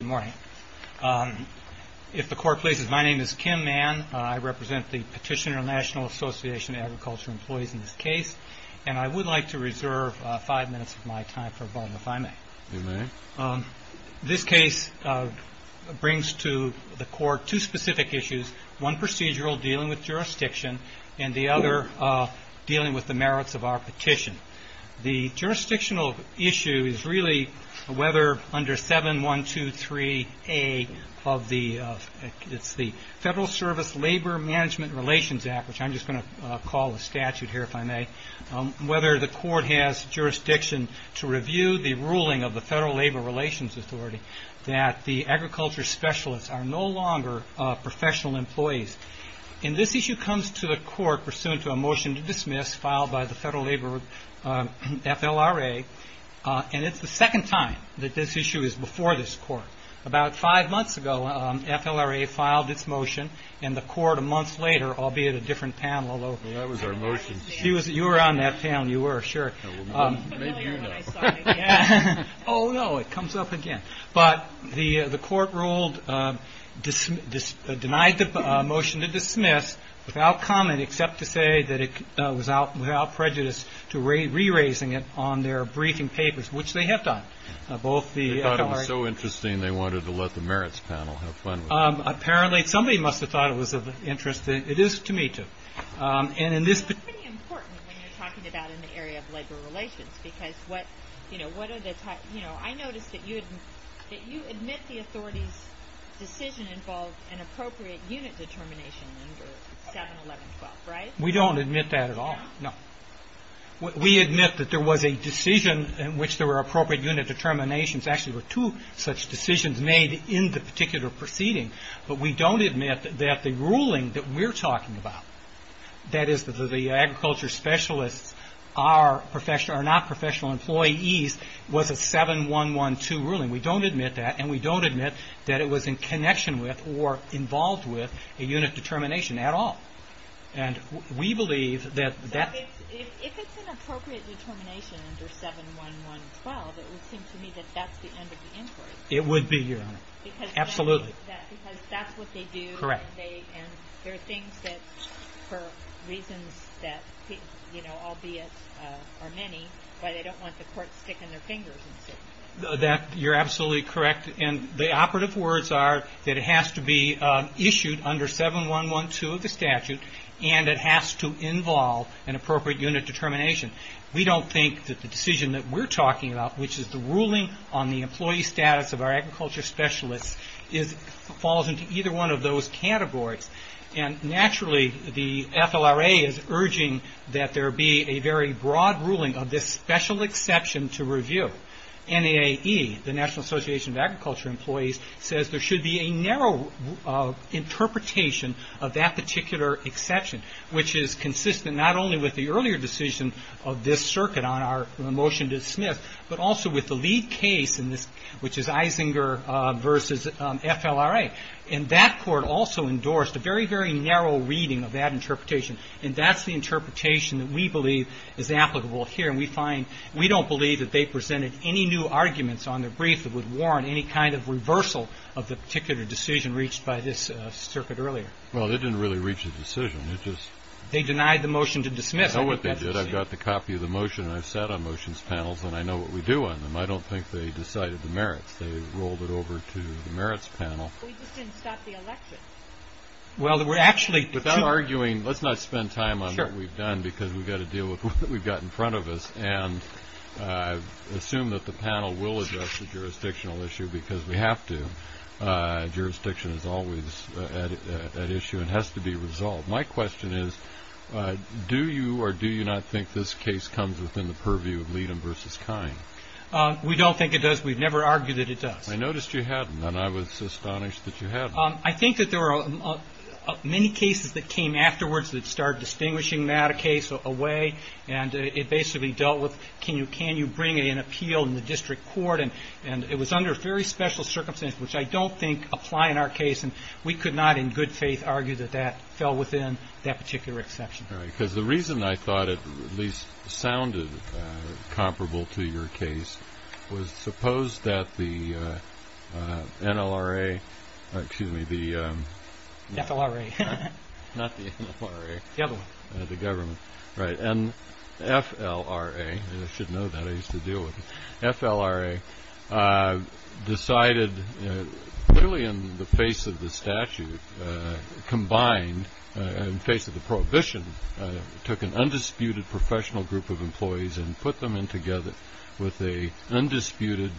Good morning. If the court pleases, my name is Kim Mann. I represent the Petitioner National Association of Agriculture Employees in this case, and I would like to reserve five minutes of my time for a moment, if I may. You may. This case brings to the court two specific issues, one procedural dealing with jurisdiction, and the other dealing with the merits of our of the Federal Service Labor Management Relations Act, which I'm just going to call a statute here if I may, whether the court has jurisdiction to review the ruling of the Federal Labor Relations Authority that the agriculture specialists are no longer professional employees. And this issue comes to the court pursuant to a motion to dismiss filed by the Federal Labor Relations Authority. And it's the second time that this issue is before this court. About five months ago, FLRA filed its motion, and the court a month later, albeit a different panel, although you were on that panel, you were, sure. Oh, no, it comes up again. But the court ruled, denied the motion to dismiss without comment except to say that it was without prejudice to re-raising it on their briefing papers, which they have done. They thought it was so interesting, they wanted to let the merits panel have fun with it. Apparently. Somebody must have thought it was of interest. It is to me, too. That's pretty important when you're talking about in the area of labor relations, because what, you know, what are the, you know, I noticed that you admit the authority's decision involved an appropriate unit determination under 7-11-12, right? We don't admit that at all, no. We admit that there was a decision in which there were appropriate unit determinations. Actually, there were two such decisions made in the particular proceeding, but we don't admit that the ruling that we're talking about, that is, the agriculture specialists are not professional employees, was a 7-11-12 ruling. We don't admit that, and we don't admit that it was in connection with or involved with a unit determination at all. And we believe that that... So, if it's an appropriate determination under 7-11-12, it would seem to me that that's the end of the inquiry. It would be, Your Honor. Absolutely. Because that's what they do. Correct. And they, and there are things that, for reasons that, you know, albeit are many, why they don't want the court sticking their fingers in certain things. That, you're absolutely correct, and the operative words are that it has to be issued under 7-11-12 of the statute, and it has to involve an appropriate unit determination. We don't think that the decision that we're talking about, which is the ruling on the employee status of our agriculture specialists, falls into either one of those categories. And naturally, the FLRA is urging that there be a very broad ruling of this special exception to review. NAE, the National Association of Agriculture Employees, says there should be a narrow interpretation of that particular exception, which is consistent not only with the earlier decision of this circuit on our motion to Smith, but also with the lead case, which is Isinger v. FLRA. And that court also endorsed a very, very narrow reading of that interpretation. And that's the interpretation that we believe is applicable here, and we find, we don't believe that they presented any new arguments on their brief that would warrant any kind of reversal of the particular decision reached by this circuit earlier. Well, it didn't really reach a decision. It just... They denied the motion to dismiss. I know what they did. I've got the copy of the motion, and I've sat on motions panels, and I know what we do on them. I don't think they decided the merits. They rolled it over to the merits panel. We just didn't stop the election. Well, we're actually... Without arguing, let's not spend time on what we've done, because we've got to deal with what we've got in front of us, and assume that the panel will address the jurisdictional issue, because we have to. Jurisdiction is always at issue, and has to be resolved. My question is, do you or do you not think this case comes within the purview of Leedham v. Kine? We don't think it does. We've never argued that it does. I noticed you hadn't, and I was astonished that you hadn't. I think that there were many cases that came afterwards that started distinguishing that a case away, and it basically dealt with can you bring in an appeal in the district court, and it was under very special circumstances, which I don't think apply in our case, and we could not, in good faith, argue that that fell within that particular exception. Right, because the reason I thought it at least sounded comparable to your case was suppose that the NLRA, excuse me, the... FLRA. Not the NLRA. The other one. The government. Right. N-F-L-R-A. I should know that. I used to deal with it. FLRA, decided, clearly in the face of the statute, combined, in face of the prohibition, took an undisputed professional group of employees and put them in together with a undisputed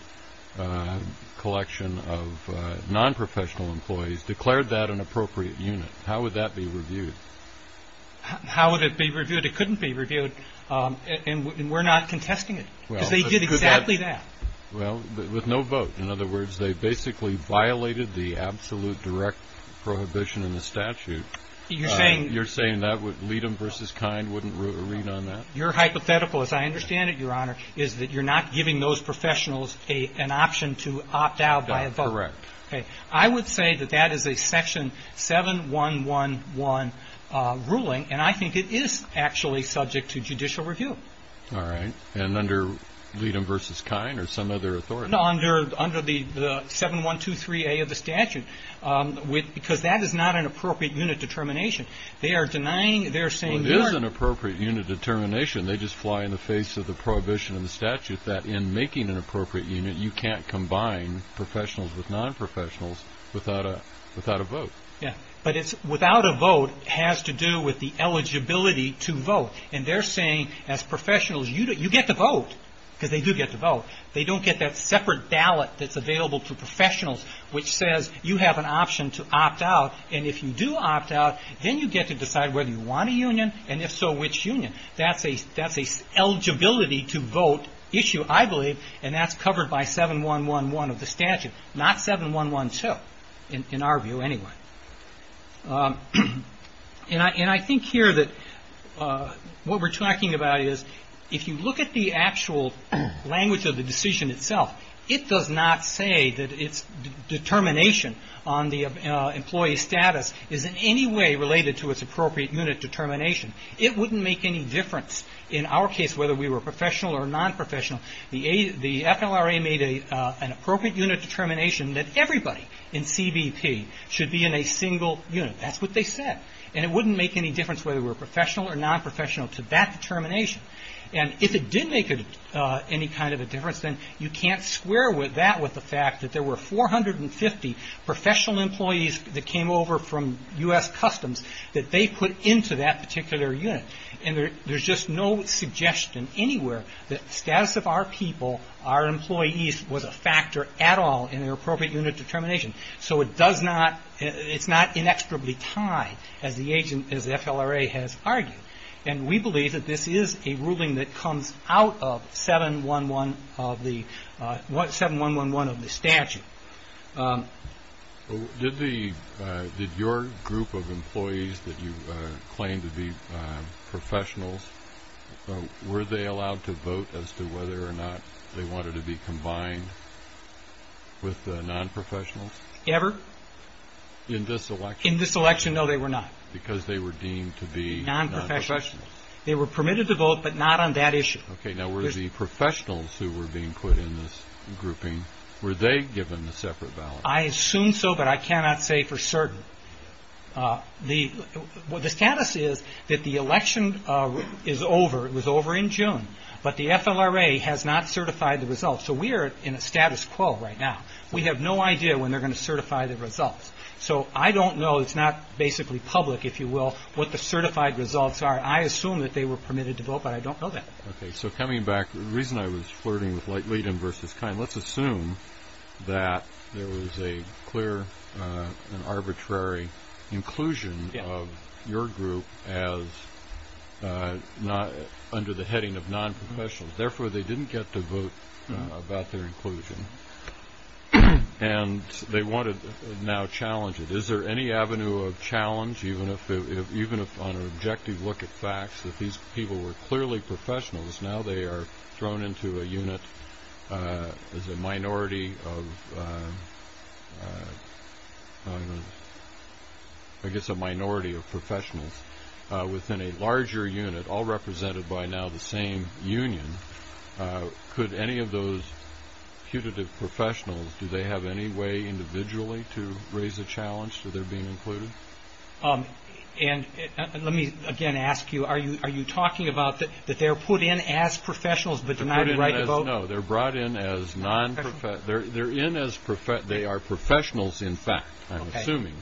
collection of nonprofessional employees, declared that an appropriate unit. How would that be reviewed? How would it be reviewed? It couldn't be reviewed, and we're not contesting it, because they did exactly that. Well, with no vote. In other words, they basically violated the absolute direct prohibition in the statute. You're saying... You're saying that Leadham v. Kine wouldn't read on that? Your hypothetical, as I understand it, Your Honor, is that you're not giving those professionals an option to opt out by a vote. That's correct. Okay. I would say that that is a Section 7111 ruling, and I think it is actually subject to judicial review. All right. And under Leadham v. Kine or some other authority? No, under the 7123A of the statute, because that is not an appropriate unit determination. They are denying... Well, it is an appropriate unit determination. They just fly in the face of the prohibition and the statute that in making an appropriate unit, you can't combine professionals with nonprofessionals without a vote. Yeah. But it's without a vote has to do with the eligibility to vote, and they're saying as professionals, you get to vote, because they do get to vote. They don't get that separate ballot that's available to professionals, which says you have an option to opt out, and if you do opt out, then you get to decide whether you want a union, and if so, which union. That's an eligibility to vote issue, I believe, and that's covered by 7111 of the statute, not 7112, in our view anyway. And I think here that what we're talking about is, if you look at the actual language of the decision itself, it does not say that its determination on the employee's status is in any way related to its appropriate unit determination. It wouldn't make any difference in our case, whether we were professional or nonprofessional. The FLRA made an appropriate unit determination that everybody in CBP should be in a single unit. That's what they said. And it wouldn't make any difference whether we were professional or nonprofessional to that determination, and if it did make any kind of a difference, then you can't square that with the fact that there were 450 professional employees that came over from U.S. Customs that they put into that particular unit, and there's just no suggestion anywhere that the appropriate unit determination. So it does not, it's not inextricably tied, as the agent, as the FLRA has argued. And we believe that this is a ruling that comes out of 7111 of the, 7111 of the statute. Did the, did your group of employees that you claim to be professionals, were they allowed to vote as to whether or not they wanted to be combined with the nonprofessionals? Ever. In this election? In this election, no, they were not. Because they were deemed to be nonprofessionals? Nonprofessionals. They were permitted to vote, but not on that issue. Okay, now were the professionals who were being put in this grouping, were they given a separate ballot? I assume so, but I cannot say for certain. The, the status is that the election is over, it was over in June, but the FLRA has not certified the results. So we are in a status quo right now. We have no idea when they're going to certify the results. So I don't know, it's not basically public, if you will, what the certified results are. I assume that they were permitted to vote, but I don't know that. Okay, so coming back, the reason I was flirting with Leighton versus Kine, let's assume that there was a clear and arbitrary inclusion of your group as not under the heading of nonprofessionals. Therefore, they didn't get to vote about their inclusion. And they wanted to now challenge it. Is there any avenue of challenge, even if on an objective look at facts, that these people were clearly professionals, now they are thrown into a unit as a minority of, I guess a minority of professionals within a larger unit, all represented by now the same union. Could any of those putative professionals, do they have any way individually to raise a challenge to their being included? And let me again ask you, are you, are you talking about that, that they're put in as professionals, but do not have the right to vote? No, they're brought in as non, they're in as, they are professionals in fact, I'm assuming,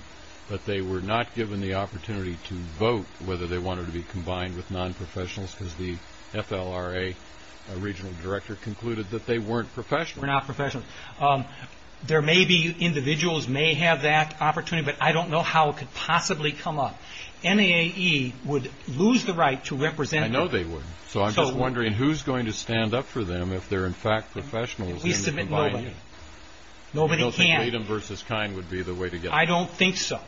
but they were not given the opportunity to vote whether they wanted to be combined with nonprofessionals because the FLRA regional director concluded that they weren't professionals. Were not professionals. There may be, individuals may have that opportunity, but I don't know how it could possibly come up. NAAE would lose the right to represent. I know they would. So I'm just wondering who's going to stand up for them if they're in fact professionals in the combined unit? Nobody can. Freedom versus kind would be the way to get them. I don't think so.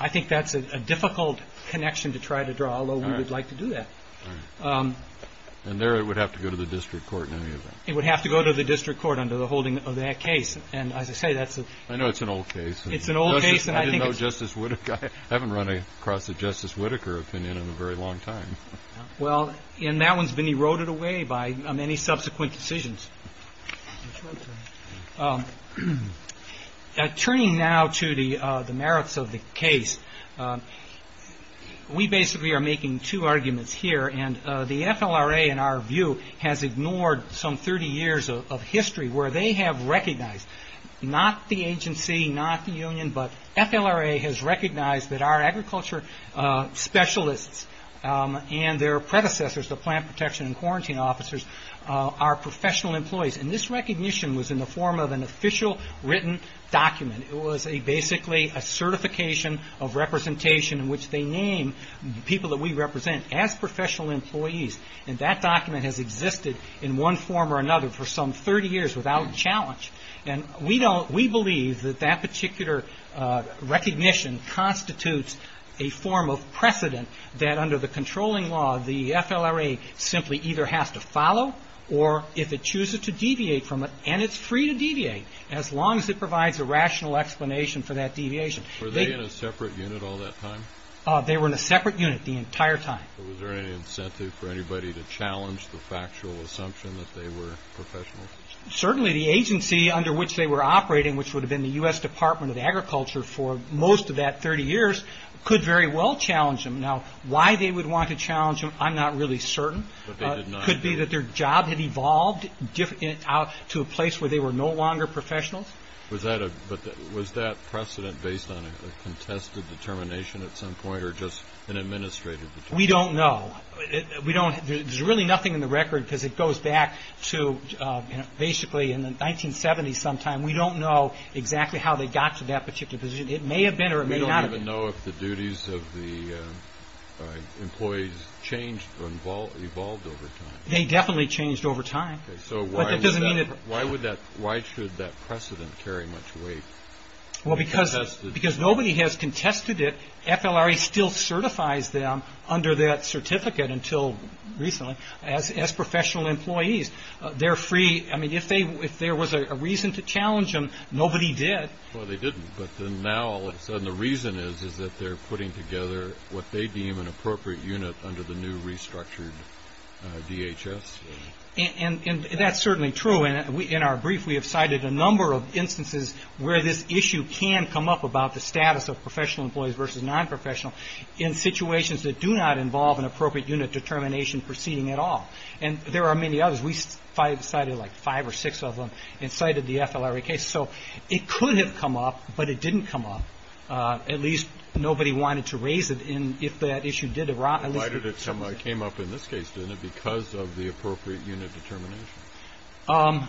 I think that's a difficult connection to try to draw, although we would like to do that. And there it would have to go to the district court in any event. It would have to go to the district court under the holding of that case. And as I say, that's a, I know it's an old case. It's an old case. I didn't know Justice Whitaker, I haven't run across a Justice Whitaker opinion in a very long time. And that one's been eroded away by many subsequent decisions. Turning now to the merits of the case, we basically are making two arguments here. And the FLRA in our view has ignored some 30 years of history where they have recognized, not the agency, not the union, but FLRA has recognized that our agriculture specialists and their predecessors, the plant protection and quarantine officers, are professional employees. And this recognition was in the form of an official written document. It was basically a certification of representation in which they name people that we represent as professional employees. And that document has existed in one form or another for some 30 years without challenge. And we don't, we believe that that particular recognition constitutes a form of precedent that under the controlling law the FLRA simply either has to follow or if it chooses to deviate from it, and it's free to deviate as long as it provides a rational explanation for that deviation. Were they in a separate unit all that time? They were in a separate unit the entire time. Was there any incentive for anybody to challenge the factual assumption that they were professional? Certainly the agency under which they were operating, which would have been the U.S. Department of Agriculture for most of that 30 years, could very well challenge them. Now, why they would want to challenge them, I'm not really certain. Could be that their job had evolved to a place where they were no longer professionals. Was that precedent based on a contested determination at some point or just an administrative determination? We don't know. There's really nothing in the record because it goes back to basically in the 1970s sometime. We don't know exactly how they got to that particular position. It may have been or it may not have been. We don't even know if the duties of the employees changed or evolved over time. They definitely changed over time. Why should that precedent carry much weight? Because nobody has contested it. FLRA still certifies them under that certificate until recently as professional employees. They're free. If there was a reason to challenge them, nobody did. Well, they didn't. But now all of a sudden the reason is that they're putting together what they deem an appropriate unit under the new restructured DHS. That's certainly true. In our brief, we have cited a number of instances where this issue can come up about the status of professional employees versus nonprofessional in situations that do not involve an appropriate unit determination proceeding at all. And there are many others. We cited like five or six of them and cited the FLRA case. So it could have come up, but it didn't come up. At least nobody wanted to raise it if that issue did arise. It came up in this case, didn't it, because of the appropriate unit determination?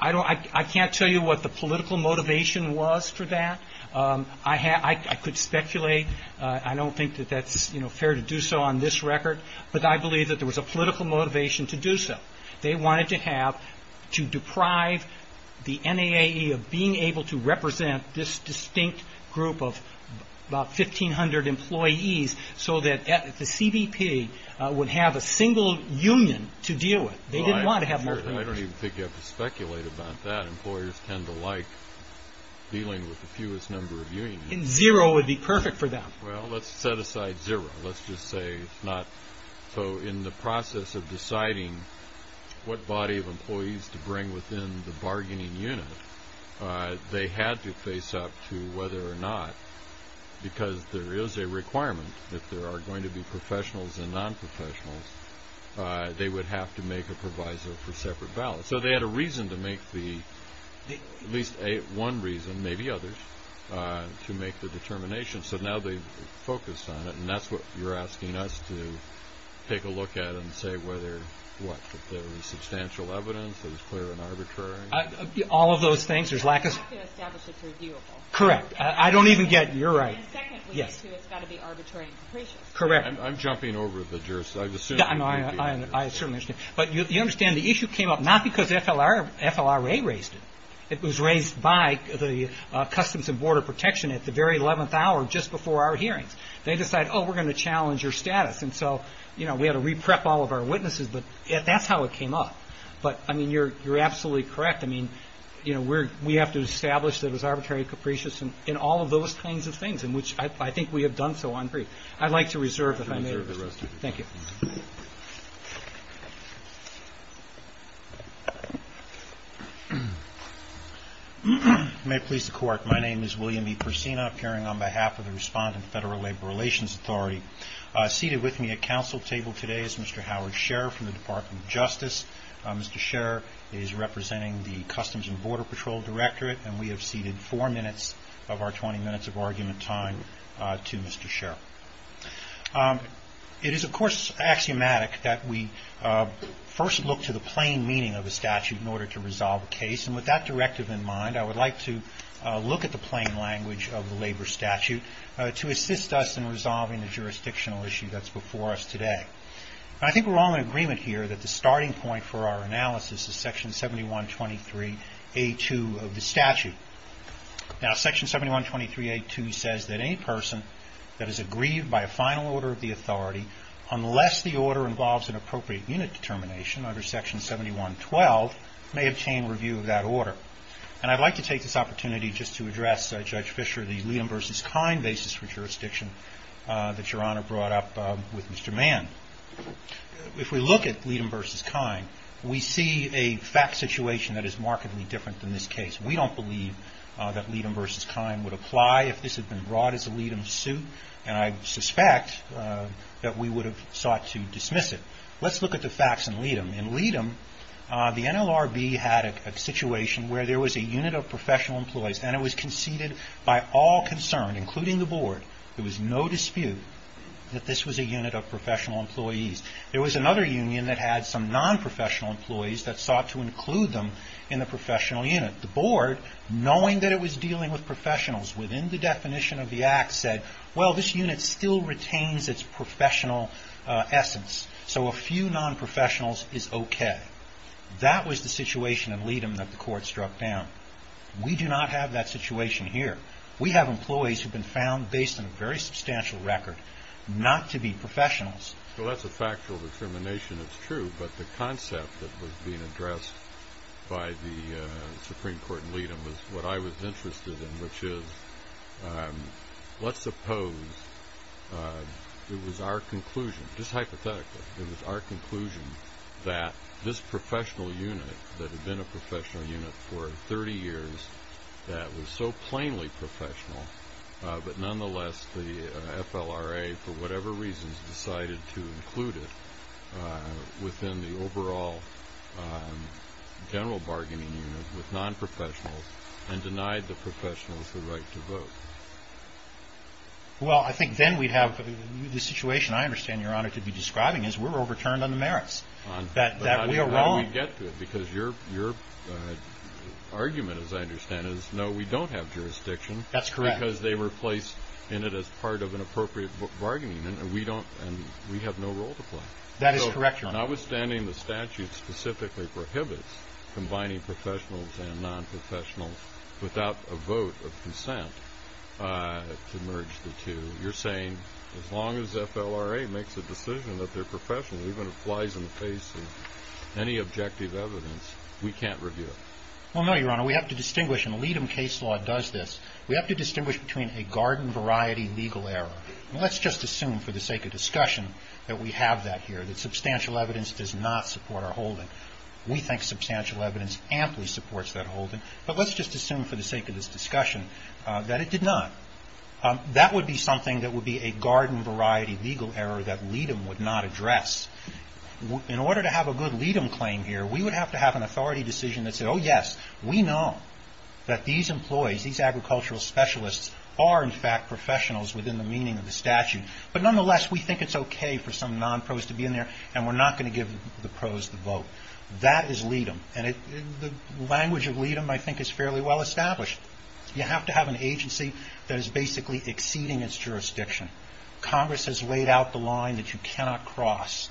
I can't tell you what the political motivation was for that. I could speculate. I don't think that that's fair to do so on this record. But I believe that there was a political motivation to do so. They wanted to deprive the NAAE of being able to represent this distinct group of about 1,500 employees so that the CBP would have a single union to deal with. They didn't want to have multiple unions. I don't even think you have to speculate about that. Employers tend to like dealing with the fewest number of unions. And zero would be perfect for them. Well, let's set aside zero. Let's just say it's not. So in the process of deciding what body of employees to bring within the bargaining unit, they had to face up to whether or not, because there is a requirement, if there are going to be professionals and nonprofessionals, they would have to make a proviso for separate ballots. So they had a reason to make the, at least one reason, maybe others, to make the determination. So now they've focused on it, and that's what you're asking us to take a look at and say whether, what, there was substantial evidence, it was clear and arbitrary. All of those things. There's lack of. You have to establish it's reviewable. Correct. I don't even get. You're right. And secondly, too, it's got to be arbitrary and capricious. Correct. I'm jumping over the jurisdiction. I certainly understand. But you understand the issue came up not because FLRA raised it. It was raised by the Customs and Border Protection at the very 11th hour just before our hearings. They decided, oh, we're going to challenge your status. And so, you know, we had to reprep all of our witnesses, but that's how it came up. But, I mean, you're absolutely correct. I mean, you know, we have to establish that it was arbitrary and capricious and all of those kinds of things, and which I think we have done so on brief. I'd like to reserve the time. Thank you. May it please the Court, my name is William E. Persina, appearing on behalf of the Respondent Federal Labor Relations Authority. Seated with me at council table today is Mr. Howard Scherer from the Department of Justice. Mr. Scherer is representing the Customs and Border Patrol Directorate, and we have seated four minutes of our 20 minutes of argument time to Mr. Scherer. It is, of course, axiomatic that we first look to the plain meaning of a statute in order to resolve a case, and with that directive in mind, I would like to look at the plain language of the labor statute to assist us in resolving the jurisdictional issue that's before us today. I think we're all in agreement here that the starting point for our analysis is section 7123A2 of the statute. Now, section 7123A2 says that any person that is aggrieved by a final order of the authority, unless the order involves an appropriate unit determination under section 7112, may obtain review of that order. And I'd like to take this opportunity just to address, Judge Fischer, the Leedham v. Kine basis for jurisdiction that Your Honor brought up with Mr. Mann. If we look at Leedham v. Kine, we see a fact situation that is markedly different than this case. We don't believe that Leedham v. Kine would apply if this had been brought as a Leedham suit, and I suspect that we would have sought to dismiss it. Let's look at the facts in Leedham. In Leedham, the NLRB had a situation where there was a unit of professional employees, and it was conceded by all concerned, including the Board, there was no dispute that this was a unit of professional employees. There was another union that had some non-professional employees that sought to include them in the professional unit. The Board, knowing that it was dealing with professionals within the definition of the Act, said, well, this unit still retains its professional essence, so a few non-professionals is okay. That was the situation in Leedham that the Court struck down. We do not have that situation here. We have employees who have been found, based on a very substantial record, not to be professionals. Well, that's a factual determination. It's true. But the concept that was being addressed by the Supreme Court in Leedham was what I was interested in, which is, let's suppose it was our conclusion, just hypothetically, that this professional unit that had been a professional unit for 30 years, that was so plainly professional, but nonetheless the FLRA, for whatever reasons, decided to include it within the overall general bargaining unit with non-professionals and denied the professionals the right to vote. Well, I think then we'd have the situation I understand, Your Honor, to be describing, is we're overturned on the merits, that we are wrong. But how do we get to it? Because your argument, as I understand it, is no, we don't have jurisdiction. That's correct. Because they were placed in it as part of an appropriate bargaining unit, and we have no role to play. That is correct, Your Honor. So notwithstanding the statute specifically prohibits combining professionals and non-professionals without a vote of consent to merge the two, you're saying as long as FLRA makes a decision that their professional even applies in the face of any objective evidence, we can't review it? Well, no, Your Honor, we have to distinguish, and Leedham case law does this, we have to distinguish between a garden-variety legal error. Let's just assume for the sake of discussion that we have that here, that substantial evidence does not support our holding. We think substantial evidence amply supports that holding. But let's just assume for the sake of this discussion that it did not. That would be something that would be a garden-variety legal error that Leedham would not address. In order to have a good Leedham claim here, we would have to have an authority decision that said, oh, yes, we know that these employees, these agricultural specialists, are in fact professionals within the meaning of the statute. But nonetheless, we think it's okay for some non-pros to be in there, and we're not going to give the pros the vote. That is Leedham. And the language of Leedham, I think, is fairly well established. You have to have an agency that is basically exceeding its jurisdiction. Congress has laid out the line that you cannot cross,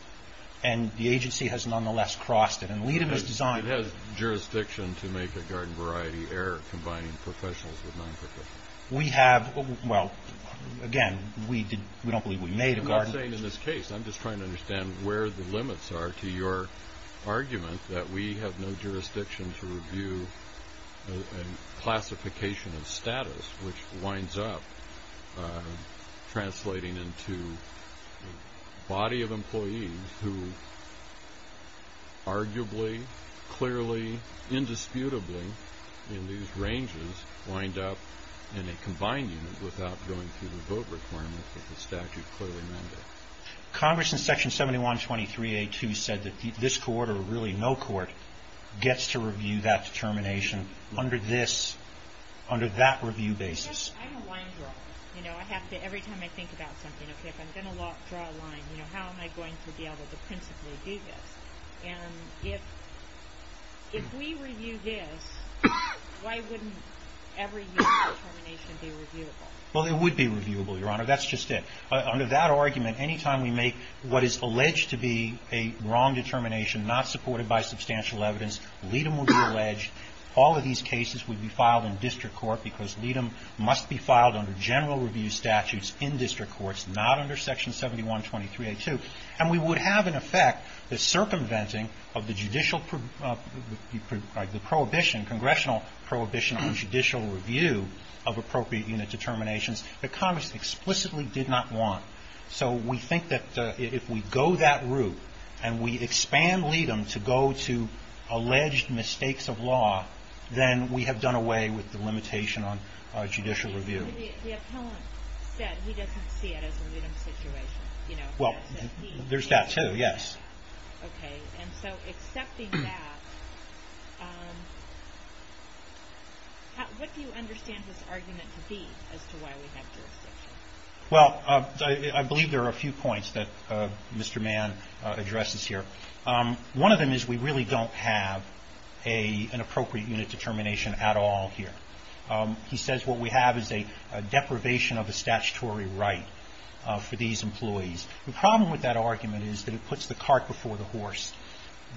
and the agency has nonetheless crossed it. And Leedham is designed... It has jurisdiction to make a garden-variety error combining professionals with non-professionals. We have, well, again, we don't believe we made a garden... We have an argument that we have no jurisdiction to review a classification of status, which winds up translating into a body of employees who arguably, clearly, indisputably, in these ranges, wind up in a combined unit without going through the vote requirement that the statute clearly mandated. Congress, in Section 7123A2, said that this court, or really no court, gets to review that determination under that review basis. Because I'm a line drawer. Every time I think about something, okay, if I'm going to draw a line, how am I going to be able to principally do this? And if we review this, why wouldn't every unit of determination be reviewable? Well, it would be reviewable, Your Honor. That's just it. Under that argument, any time we make what is alleged to be a wrong determination, not supported by substantial evidence, Leadom would be alleged. All of these cases would be filed in district court, because Leadom must be filed under general review statutes in district courts, not under Section 7123A2. And we would have, in effect, the circumventing of the judicial prohibition, congressional prohibition on judicial review of appropriate unit determinations that Congress explicitly did not want. So we think that if we go that route, and we expand Leadom to go to alleged mistakes of law, then we have done away with the limitation on judicial review. The appellant said he doesn't see it as a Leadom situation. Well, there's that, too, yes. Okay. Well, I believe there are a few points that Mr. Mann addresses here. One of them is we really don't have an appropriate unit determination at all here. He says what we have is a deprivation of a statutory right for these employees. The problem with that argument is that it puts the cart before the horse.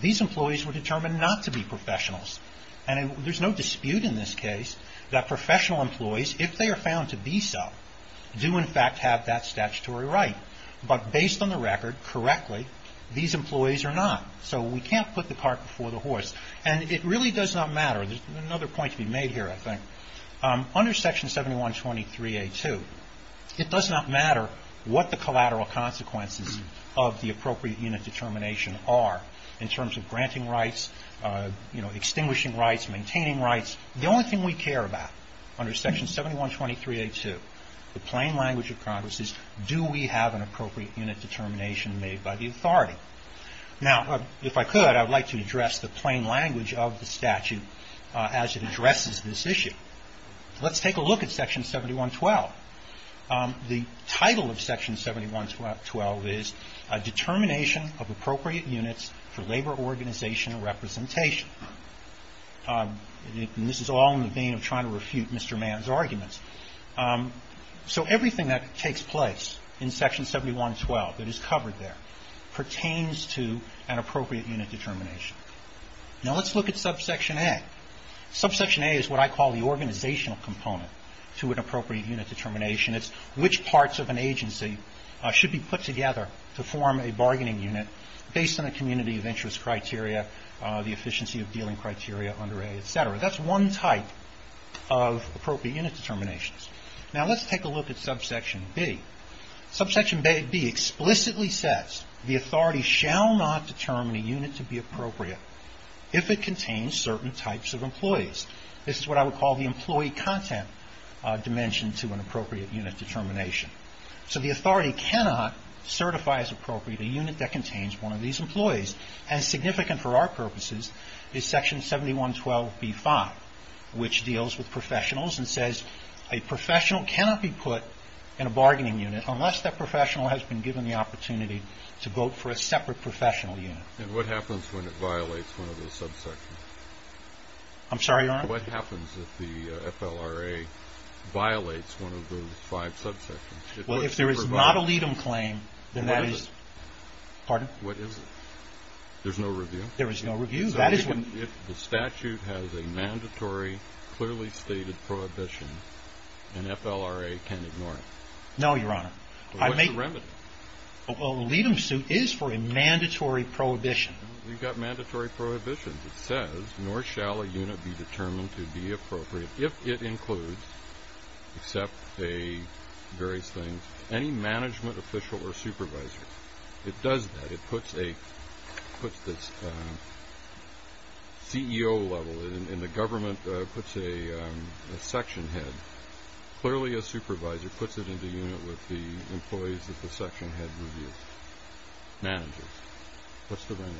These employees were determined not to be professionals. And there's no dispute in this case that professional employees, if they are found to be so, do, in fact, have that statutory right. But based on the record, correctly, these employees are not. So we can't put the cart before the horse. And it really does not matter. There's another point to be made here, I think. Under Section 7123A2, it does not matter what the collateral consequences of the appropriate unit determination are in terms of granting rights, extinguishing rights, maintaining rights. The only thing we care about under Section 7123A2, the plain language of Congress, is do we have an appropriate unit determination made by the authority? Now, if I could, I would like to address the plain language of the statute as it addresses this issue. Let's take a look at Section 7112. The title of Section 7112 is Determination of Appropriate Units for Labor Organization Representation. And this is all in the vein of trying to refute Mr. Mann's arguments. So everything that takes place in Section 7112 that is covered there pertains to an appropriate unit determination. Now, let's look at Subsection A. Subsection A is what I call the organizational component to an appropriate unit determination. It's which parts of an agency should be put together to form a bargaining unit based on a community of interest criteria, the efficiency of dealing criteria under A, et cetera. That's one type of appropriate unit determinations. Now, let's take a look at Subsection B. Subsection B explicitly says the authority shall not determine a unit to be appropriate if it contains certain types of employees. This is what I would call the employee content dimension to an appropriate unit determination. So the authority cannot certify as appropriate a unit that contains one of these employees. And significant for our purposes is Section 7112B-5, which deals with professionals and says a professional cannot be put in a bargaining unit unless that professional has been given the opportunity to vote for a separate professional unit. And what happens when it violates one of those subsections? I'm sorry, Your Honor? What happens if the FLRA violates one of those five subsections? Well, if there is not a LEDM claim, then that is... What is it? Pardon? What is it? There's no review? There is no review. If the statute has a mandatory, clearly stated prohibition, an FLRA can ignore it? No, Your Honor. What's the remedy? A LEDM suit is for a mandatory prohibition. We've got mandatory prohibitions. It says, nor shall a unit be determined to be appropriate if it includes, except various things, any management official or supervisor. It does that. It puts this CEO level, and the government puts a section head. Clearly a supervisor puts it in the unit with the employees that the section head reviews. Managers. What's the remedy?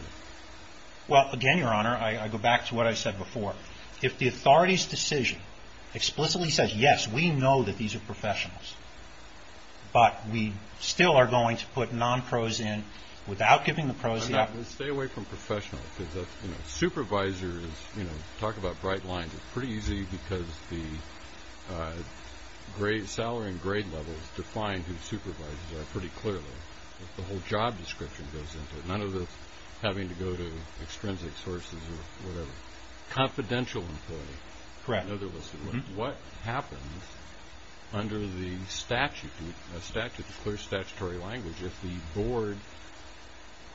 Well, again, Your Honor, I go back to what I said before. If the authority's decision explicitly says, yes, we know that these are professionals, but we still are going to put non-pros in without giving the pros the opportunity... Stay away from professional, because supervisors, talk about bright lines, pretty easy because the salary and grade levels define who supervisors are pretty clearly. The whole job description goes into it. None of this having to go to extrinsic sources or whatever. Confidential employee. Correct. In other words, what happens under the statute, the clear statutory language, if the board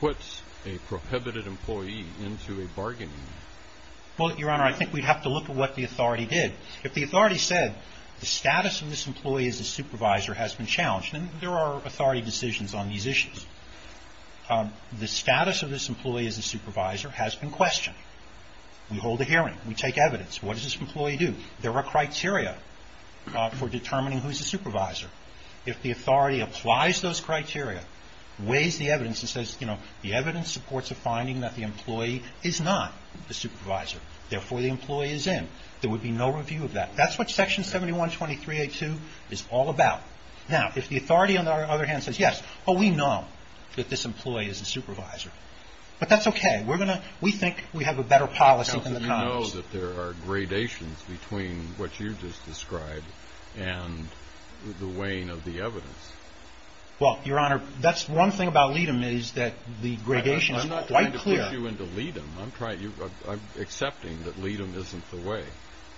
puts a prohibited employee into a bargaining unit? Well, Your Honor, I think we'd have to look at what the authority did. If the authority said, the status of this employee as a supervisor has been challenged, and there are authority decisions on these issues. The status of this employee as a supervisor has been questioned. We hold a hearing. We take evidence. What does this employee do? There are criteria for determining who's a supervisor. If the authority applies those criteria, weighs the evidence and says, you know, the evidence supports a finding that the employee is not a supervisor. Therefore, the employee is in. There would be no review of that. That's what Section 7123A2 is all about. Now, if the authority, on the other hand, says, yes, oh, we know that this employee is a supervisor. But that's okay. We think we have a better policy than the Congress. How do you know that there are gradations between what you just described and the weighing of the evidence? Well, Your Honor, that's one thing about LEADM is that the gradation is quite clear. I'm not trying to push you into LEADM. I'm accepting that LEADM isn't the way.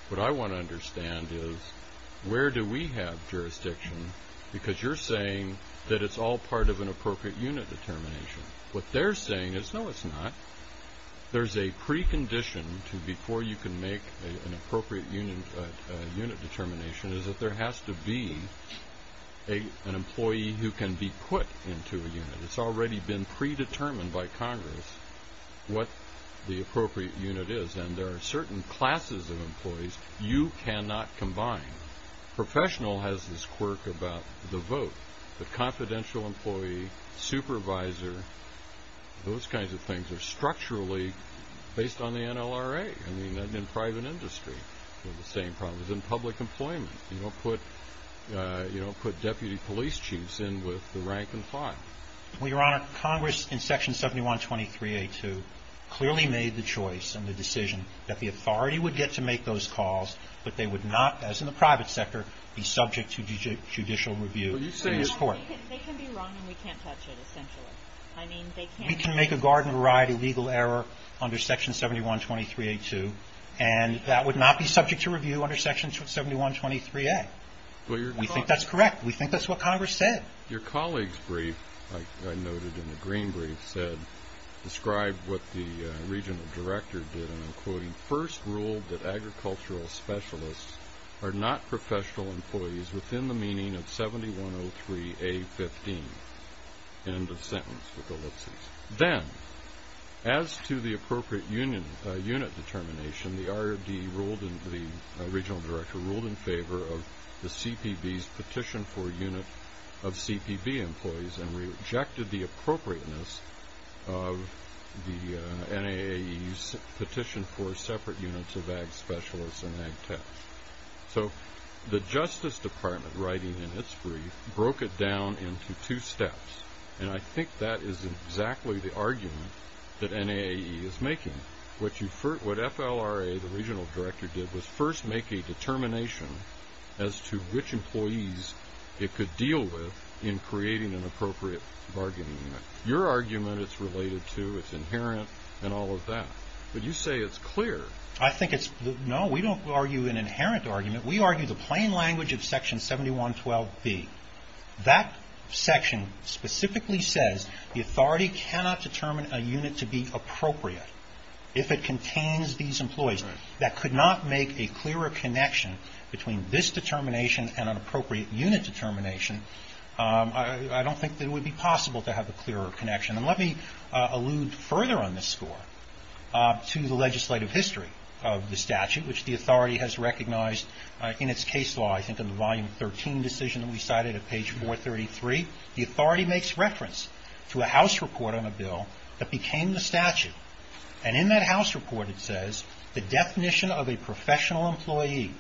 What I want to understand is where do we have jurisdiction, because you're saying that it's all part of an appropriate unit determination. What they're saying is, no, it's not. There's a precondition to before you can make an appropriate unit determination is that there has to be an employee who can be put into a unit. It's already been predetermined by Congress what the appropriate unit is, and there are certain classes of employees you cannot combine. Professional has this quirk about the vote. The confidential employee, supervisor, those kinds of things are structurally based on the NLRA. I mean, that's in private industry. The same problem is in public employment. You don't put deputy police chiefs in with the rank and file. Well, Your Honor, Congress in Section 7123A2 clearly made the choice and the decision that the authority would get to make those calls, but they would not, as in the private sector, be subject to judicial review in this court. They can be wrong and we can't touch it, essentially. We can make a garden-of-a-variety legal error under Section 7123A2, and that would not be subject to review under Section 7123A. We think that's correct. We think that's what Congress said. Your colleague's brief, like I noted in the green brief, first ruled that agricultural specialists are not professional employees within the meaning of 7103A15. End of sentence with ellipses. Then, as to the appropriate unit determination, the ROD ruled and the regional director ruled in favor of the CPB's petition for a unit of CPB employees and rejected the appropriateness of the NAAE's petition for separate units of ag specialists and ag techs. So the Justice Department, writing in its brief, broke it down into two steps, and I think that is exactly the argument that NAAE is making. What FLRA, the regional director, did was first make a determination as to which employees it could deal with in creating an appropriate bargaining unit. Your argument it's related to, it's inherent, and all of that. But you say it's clear. I think it's clear. No, we don't argue an inherent argument. We argue the plain language of Section 7112B. That section specifically says the authority cannot determine a unit to be appropriate if it contains these employees. That could not make a clearer connection between this determination and an appropriate unit determination. I don't think that it would be possible to have a clearer connection. And let me allude further on this score to the legislative history of the statute, which the authority has recognized in its case law. I think in the volume 13 decision that we cited at page 433, the authority makes reference to a House report on a bill that became the statute. And in that House report it says, the definition of a professional employee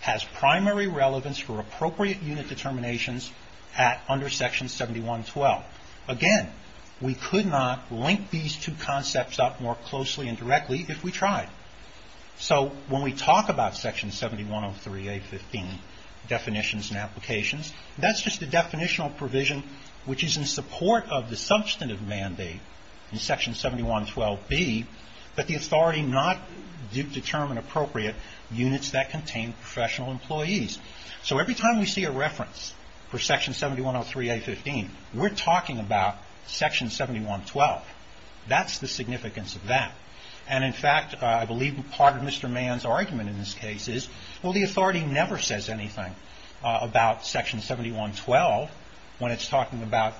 has primary relevance for appropriate unit determinations under Section 7112. Again, we could not link these two concepts up more closely and directly if we tried. So when we talk about Section 7103A15, definitions and applications, that's just a definitional provision which is in support of the substantive mandate in Section 7112B that the authority not determine appropriate units that contain professional employees. So every time we see a reference for Section 7103A15, we're talking about Section 7112. That's the significance of that. And, in fact, I believe part of Mr. Mann's argument in this case is, well, the authority never says anything about Section 7112 when it's talking about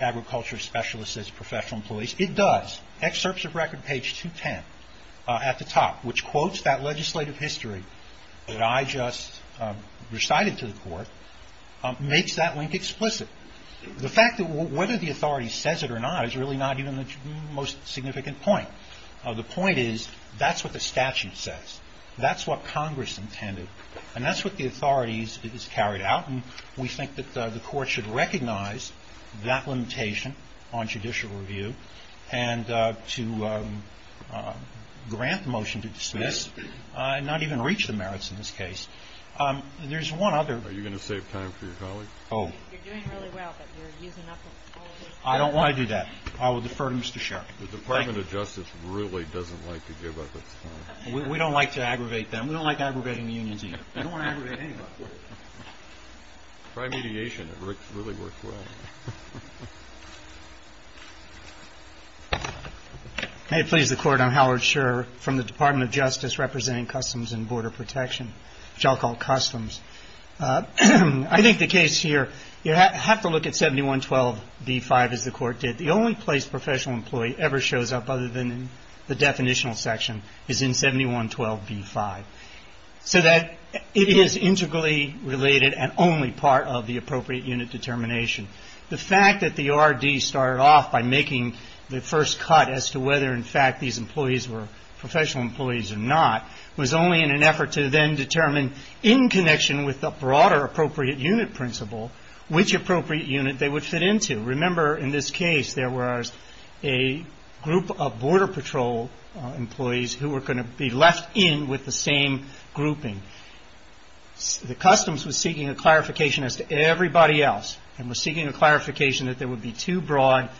agriculture specialists as professional employees. It does. Excerpts of record page 210 at the top, which quotes that legislative history that I just recited to the Court, makes that link explicit. The fact that whether the authority says it or not is really not even the most significant point. The point is that's what the statute says. That's what Congress intended. And that's what the authority has carried out, and we think that the Court should recognize that limitation on judicial review and to grant the motion to dismiss and not even reach the merits in this case. There's one other. Are you going to save time for your colleague? Oh. You're doing really well, but you're using up all of your time. I don't want to do that. I will defer to Mr. Sherry. The Department of Justice really doesn't like to give up its time. We don't like to aggravate them. We don't like aggravating the unions either. We don't want to aggravate anyone. Prime mediation really works well. May it please the Court, I'm Howard Sherr from the Department of Justice representing Customs and Border Protection, which I'll call Customs. I think the case here, you have to look at 7112b-5, as the Court did. The only place professional employee ever shows up other than in the definitional section is in 7112b-5, so that it is integrally related and only part of the appropriate unit determination. The fact that the RD started off by making the first cut as to whether, in fact, these employees were professional employees or not was only in an effort to then determine, in connection with the broader appropriate unit principle, which appropriate unit they would fit into. Remember, in this case, there was a group of Border Patrol employees who were going to be left in with the same grouping. The Customs was seeking a clarification as to everybody else and was seeking a clarification that there would be two broad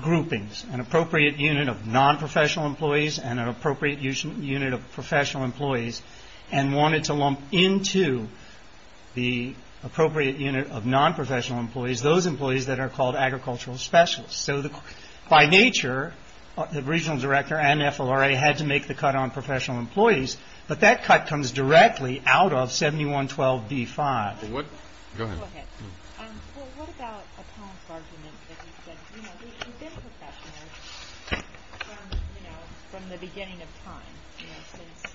groupings, an appropriate unit of nonprofessional employees and an appropriate unit of professional employees, and wanted to lump into the appropriate unit of nonprofessional employees those employees that are called agricultural specialists. So by nature, the Regional Director and FLRA had to make the cut on professional employees, but that cut comes directly out of 7112b-5. Go ahead. Well, what about a Ponce argument that he said, you know, we've been professionals from, you know, from the beginning of time, you know, since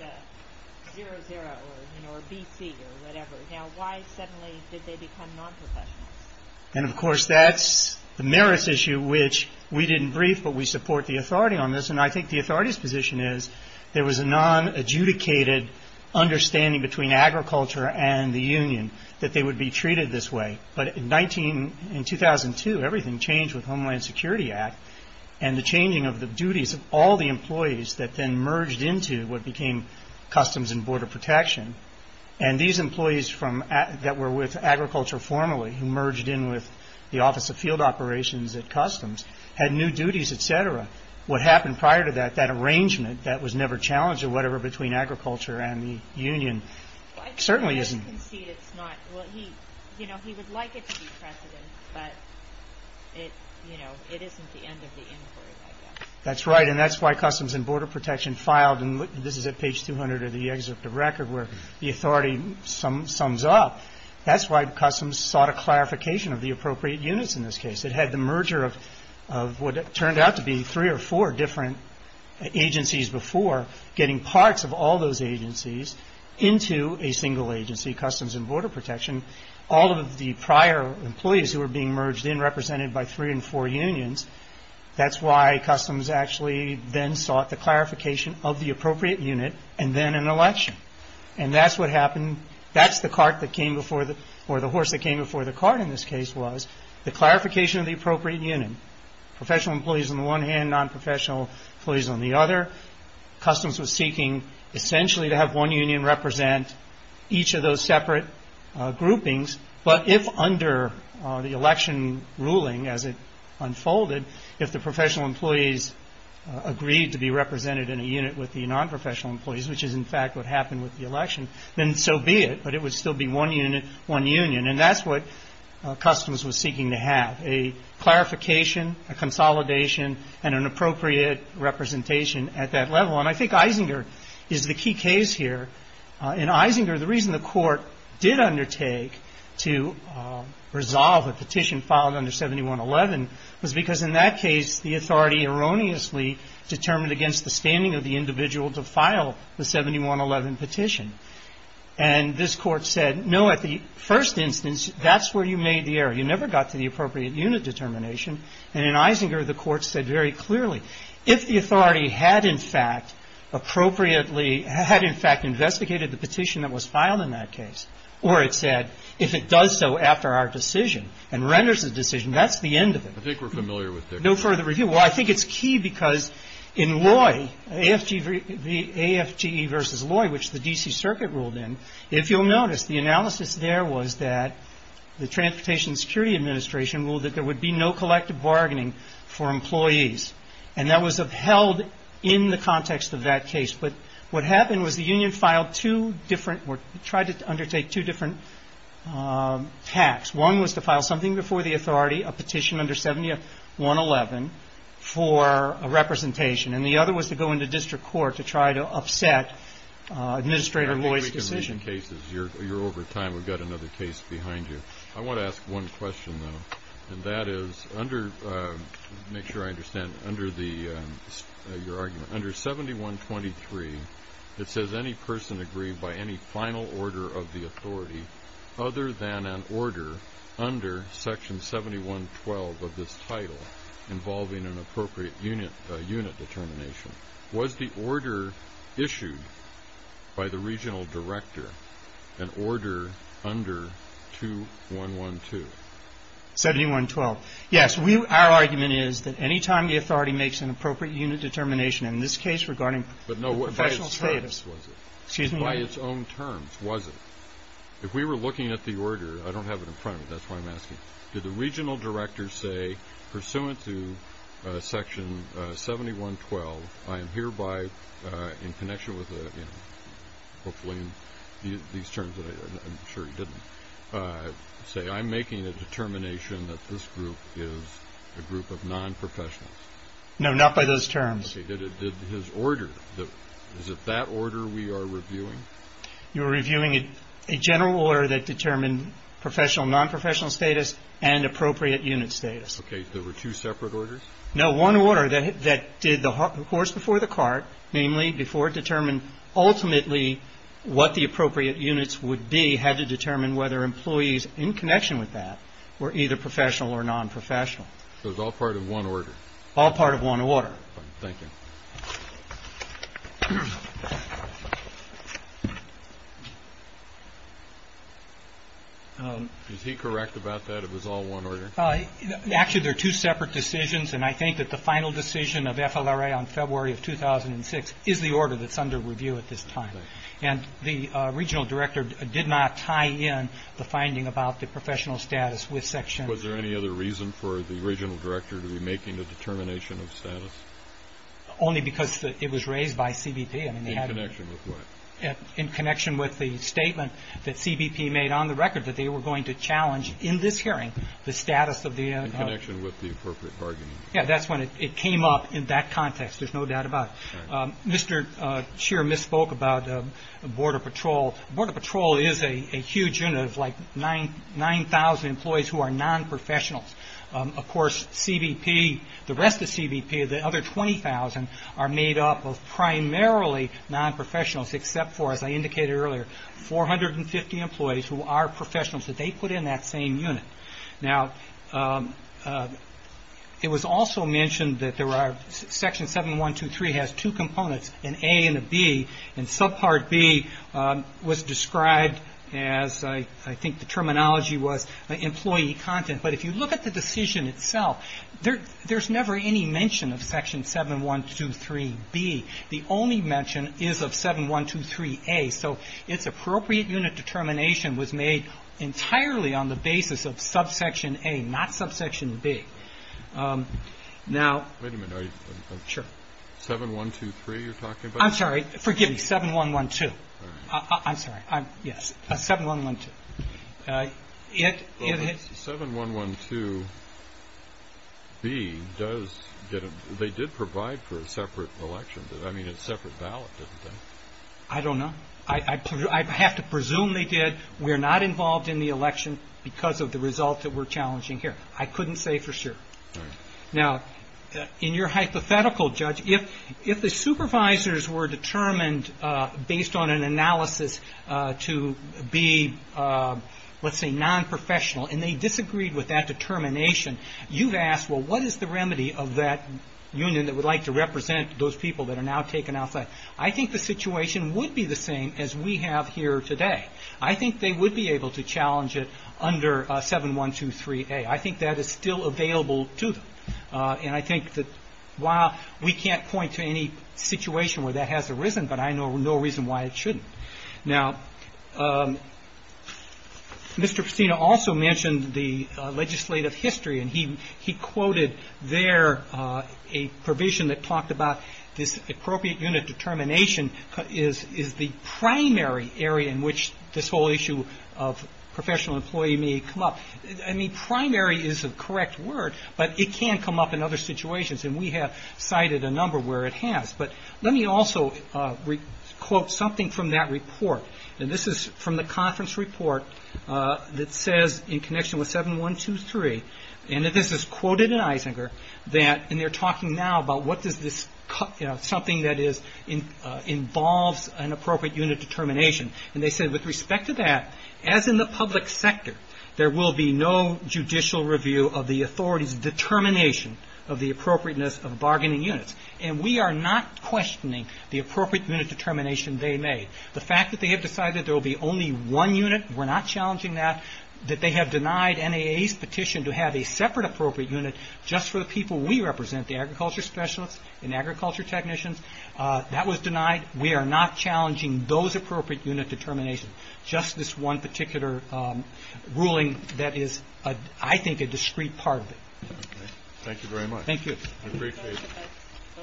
00 or, you know, or BC or whatever. Now, why suddenly did they become nonprofessionals? And, of course, that's the merits issue, which we didn't brief, but we support the authority on this, and I think the authority's position is there was a nonadjudicated understanding between agriculture and the union that they would be treated this way. But in 2002, everything changed with Homeland Security Act and the changing of the duties of all the employees that then merged into what became Customs and Border Protection. And these employees that were with agriculture formerly, who merged in with the Office of Field Operations at Customs, had new duties, et cetera. What happened prior to that, that arrangement that was never challenged or whatever between agriculture and the union certainly isn't. Well, I think he does concede it's not. Well, he, you know, he would like it to be precedent, but it, you know, it isn't the end of the inquiry, I guess. That's right, and that's why Customs and Border Protection filed, and this is at page 200 of the excerpt of record where the authority sums up. That's why Customs sought a clarification of the appropriate units in this case. It had the merger of what turned out to be three or four different agencies before getting parts of all those agencies into a single agency, Customs and Border Protection. All of the prior employees who were being merged in represented by three and four unions. That's why Customs actually then sought the clarification of the appropriate unit and then an election. And that's what happened. That's the cart that came before the horse that came before the cart in this case was the clarification of the appropriate unit. Professional employees on the one hand, nonprofessional employees on the other. Customs was seeking essentially to have one union represent each of those separate groupings, but if under the election ruling as it unfolded, if the professional employees agreed to be represented in a unit with the nonprofessional employees, which is in fact what happened with the election, then so be it, but it would still be one unit, one union, and that's what Customs was seeking to have, a clarification, a consolidation, and an appropriate representation at that level. And I think Isinger is the key case here. In Isinger, the reason the Court did undertake to resolve a petition filed under 7111 was because in that case, the authority erroneously determined against the standing of the individual to file the 7111 petition. And this Court said, no, at the first instance, that's where you made the error. You never got to the appropriate unit determination. And in Isinger, the Court said very clearly, if the authority had in fact appropriately had in fact investigated the petition that was filed in that case, or it said, if it does so after our decision and renders a decision, that's the end of it. I think we're familiar with this. No further review. Well, I think it's key because in Loy, AFGE versus Loy, which the D.C. Circuit ruled in, if you'll notice, the analysis there was that the Transportation Security Administration ruled that there would be no collective bargaining for employees. And that was upheld in the context of that case. But what happened was the union filed two different or tried to undertake two different acts. One was to file something before the authority, a petition under 7111 for a representation. And the other was to go into district court to try to upset Administrator Loy's decision. You're over time. We've got another case behind you. I want to ask one question, though. And that is, make sure I understand, under your argument, under 7123, it says, any person agreed by any final order of the authority other than an order under Section 7112 of this title involving an appropriate unit determination. Was the order issued by the regional director an order under 2112? 7112. Yes. Our argument is that any time the authority makes an appropriate unit determination, in this case regarding professional status. But no, by its terms was it? Excuse me? By its own terms was it? If we were looking at the order, I don't have it in front of me. That's why I'm asking. Did the regional director say, pursuant to Section 7112, I am hereby in connection with, hopefully in these terms that I'm sure he didn't say, I'm making a determination that this group is a group of nonprofessionals? No, not by those terms. Okay. Did his order, is it that order we are reviewing? You are reviewing a general order that determined professional and nonprofessional status and appropriate unit status. Okay. There were two separate orders? No, one order that did the horse before the cart, namely, before it determined ultimately what the appropriate units would be, had to determine whether employees in connection with that were either professional or nonprofessional. So it was all part of one order? All part of one order. Thank you. Is he correct about that it was all one order? Actually, there are two separate decisions, and I think that the final decision of FLRA on February of 2006 is the order that's under review at this time. And the regional director did not tie in the finding about the professional status with Section – only because it was raised by CBP. In connection with what? In connection with the statement that CBP made on the record that they were going to challenge in this hearing the status of the – In connection with the appropriate bargaining. Yeah, that's when it came up in that context, there's no doubt about it. Mr. Shear misspoke about the Border Patrol. The Border Patrol is a huge unit of like 9,000 employees who are nonprofessionals. Of course, CBP, the rest of CBP, the other 20,000 are made up of primarily nonprofessionals, except for, as I indicated earlier, 450 employees who are professionals that they put in that same unit. Now, it was also mentioned that there are – Section 7123 has two components, an A and a B. And subpart B was described as – I think the terminology was employee content. But if you look at the decision itself, there's never any mention of Section 7123B. The only mention is of 7123A. So its appropriate unit determination was made entirely on the basis of subsection A, not subsection B. Now – Wait a minute. Sure. 7123 you're talking about? I'm sorry. Forgive me. 7112. I'm sorry. Yes. 7112. 7112B does – they did provide for a separate election. I mean, a separate ballot, didn't they? I don't know. I have to presume they did. We are not involved in the election because of the results that we're challenging here. I couldn't say for sure. All right. Now, in your hypothetical, Judge, if the supervisors were determined based on an analysis to be, let's say, nonprofessional, and they disagreed with that determination, you've asked, well, what is the remedy of that union that would like to represent those people that are now taken outside? I think the situation would be the same as we have here today. I think they would be able to challenge it under 7123A. I think that is still available to them. And I think that while we can't point to any situation where that hasn't arisen, but I know no reason why it shouldn't. Now, Mr. Pestino also mentioned the legislative history, and he quoted there a provision that talked about this appropriate unit determination is the primary area in which this whole issue of professional employee may come up. I mean, primary is a correct word, but it can come up in other situations, and we have cited a number where it has. But let me also quote something from that report. And this is from the conference report that says in connection with 7123, and this is quoted in Eisinger, and they're talking now about what does this something that involves an appropriate unit determination. And they said with respect to that, as in the public sector, there will be no judicial review of the authority's determination of the appropriateness of bargaining units. And we are not questioning the appropriate unit determination they made. The fact that they have decided there will be only one unit, we're not challenging that, that they have denied NAA's petition to have a separate appropriate unit just for the people we represent, the agriculture specialists and agriculture technicians, that was denied. We are not challenging those appropriate unit determinations, just this one particular ruling that is, I think, a discrete part of it. Thank you very much. Thank you. I appreciate it.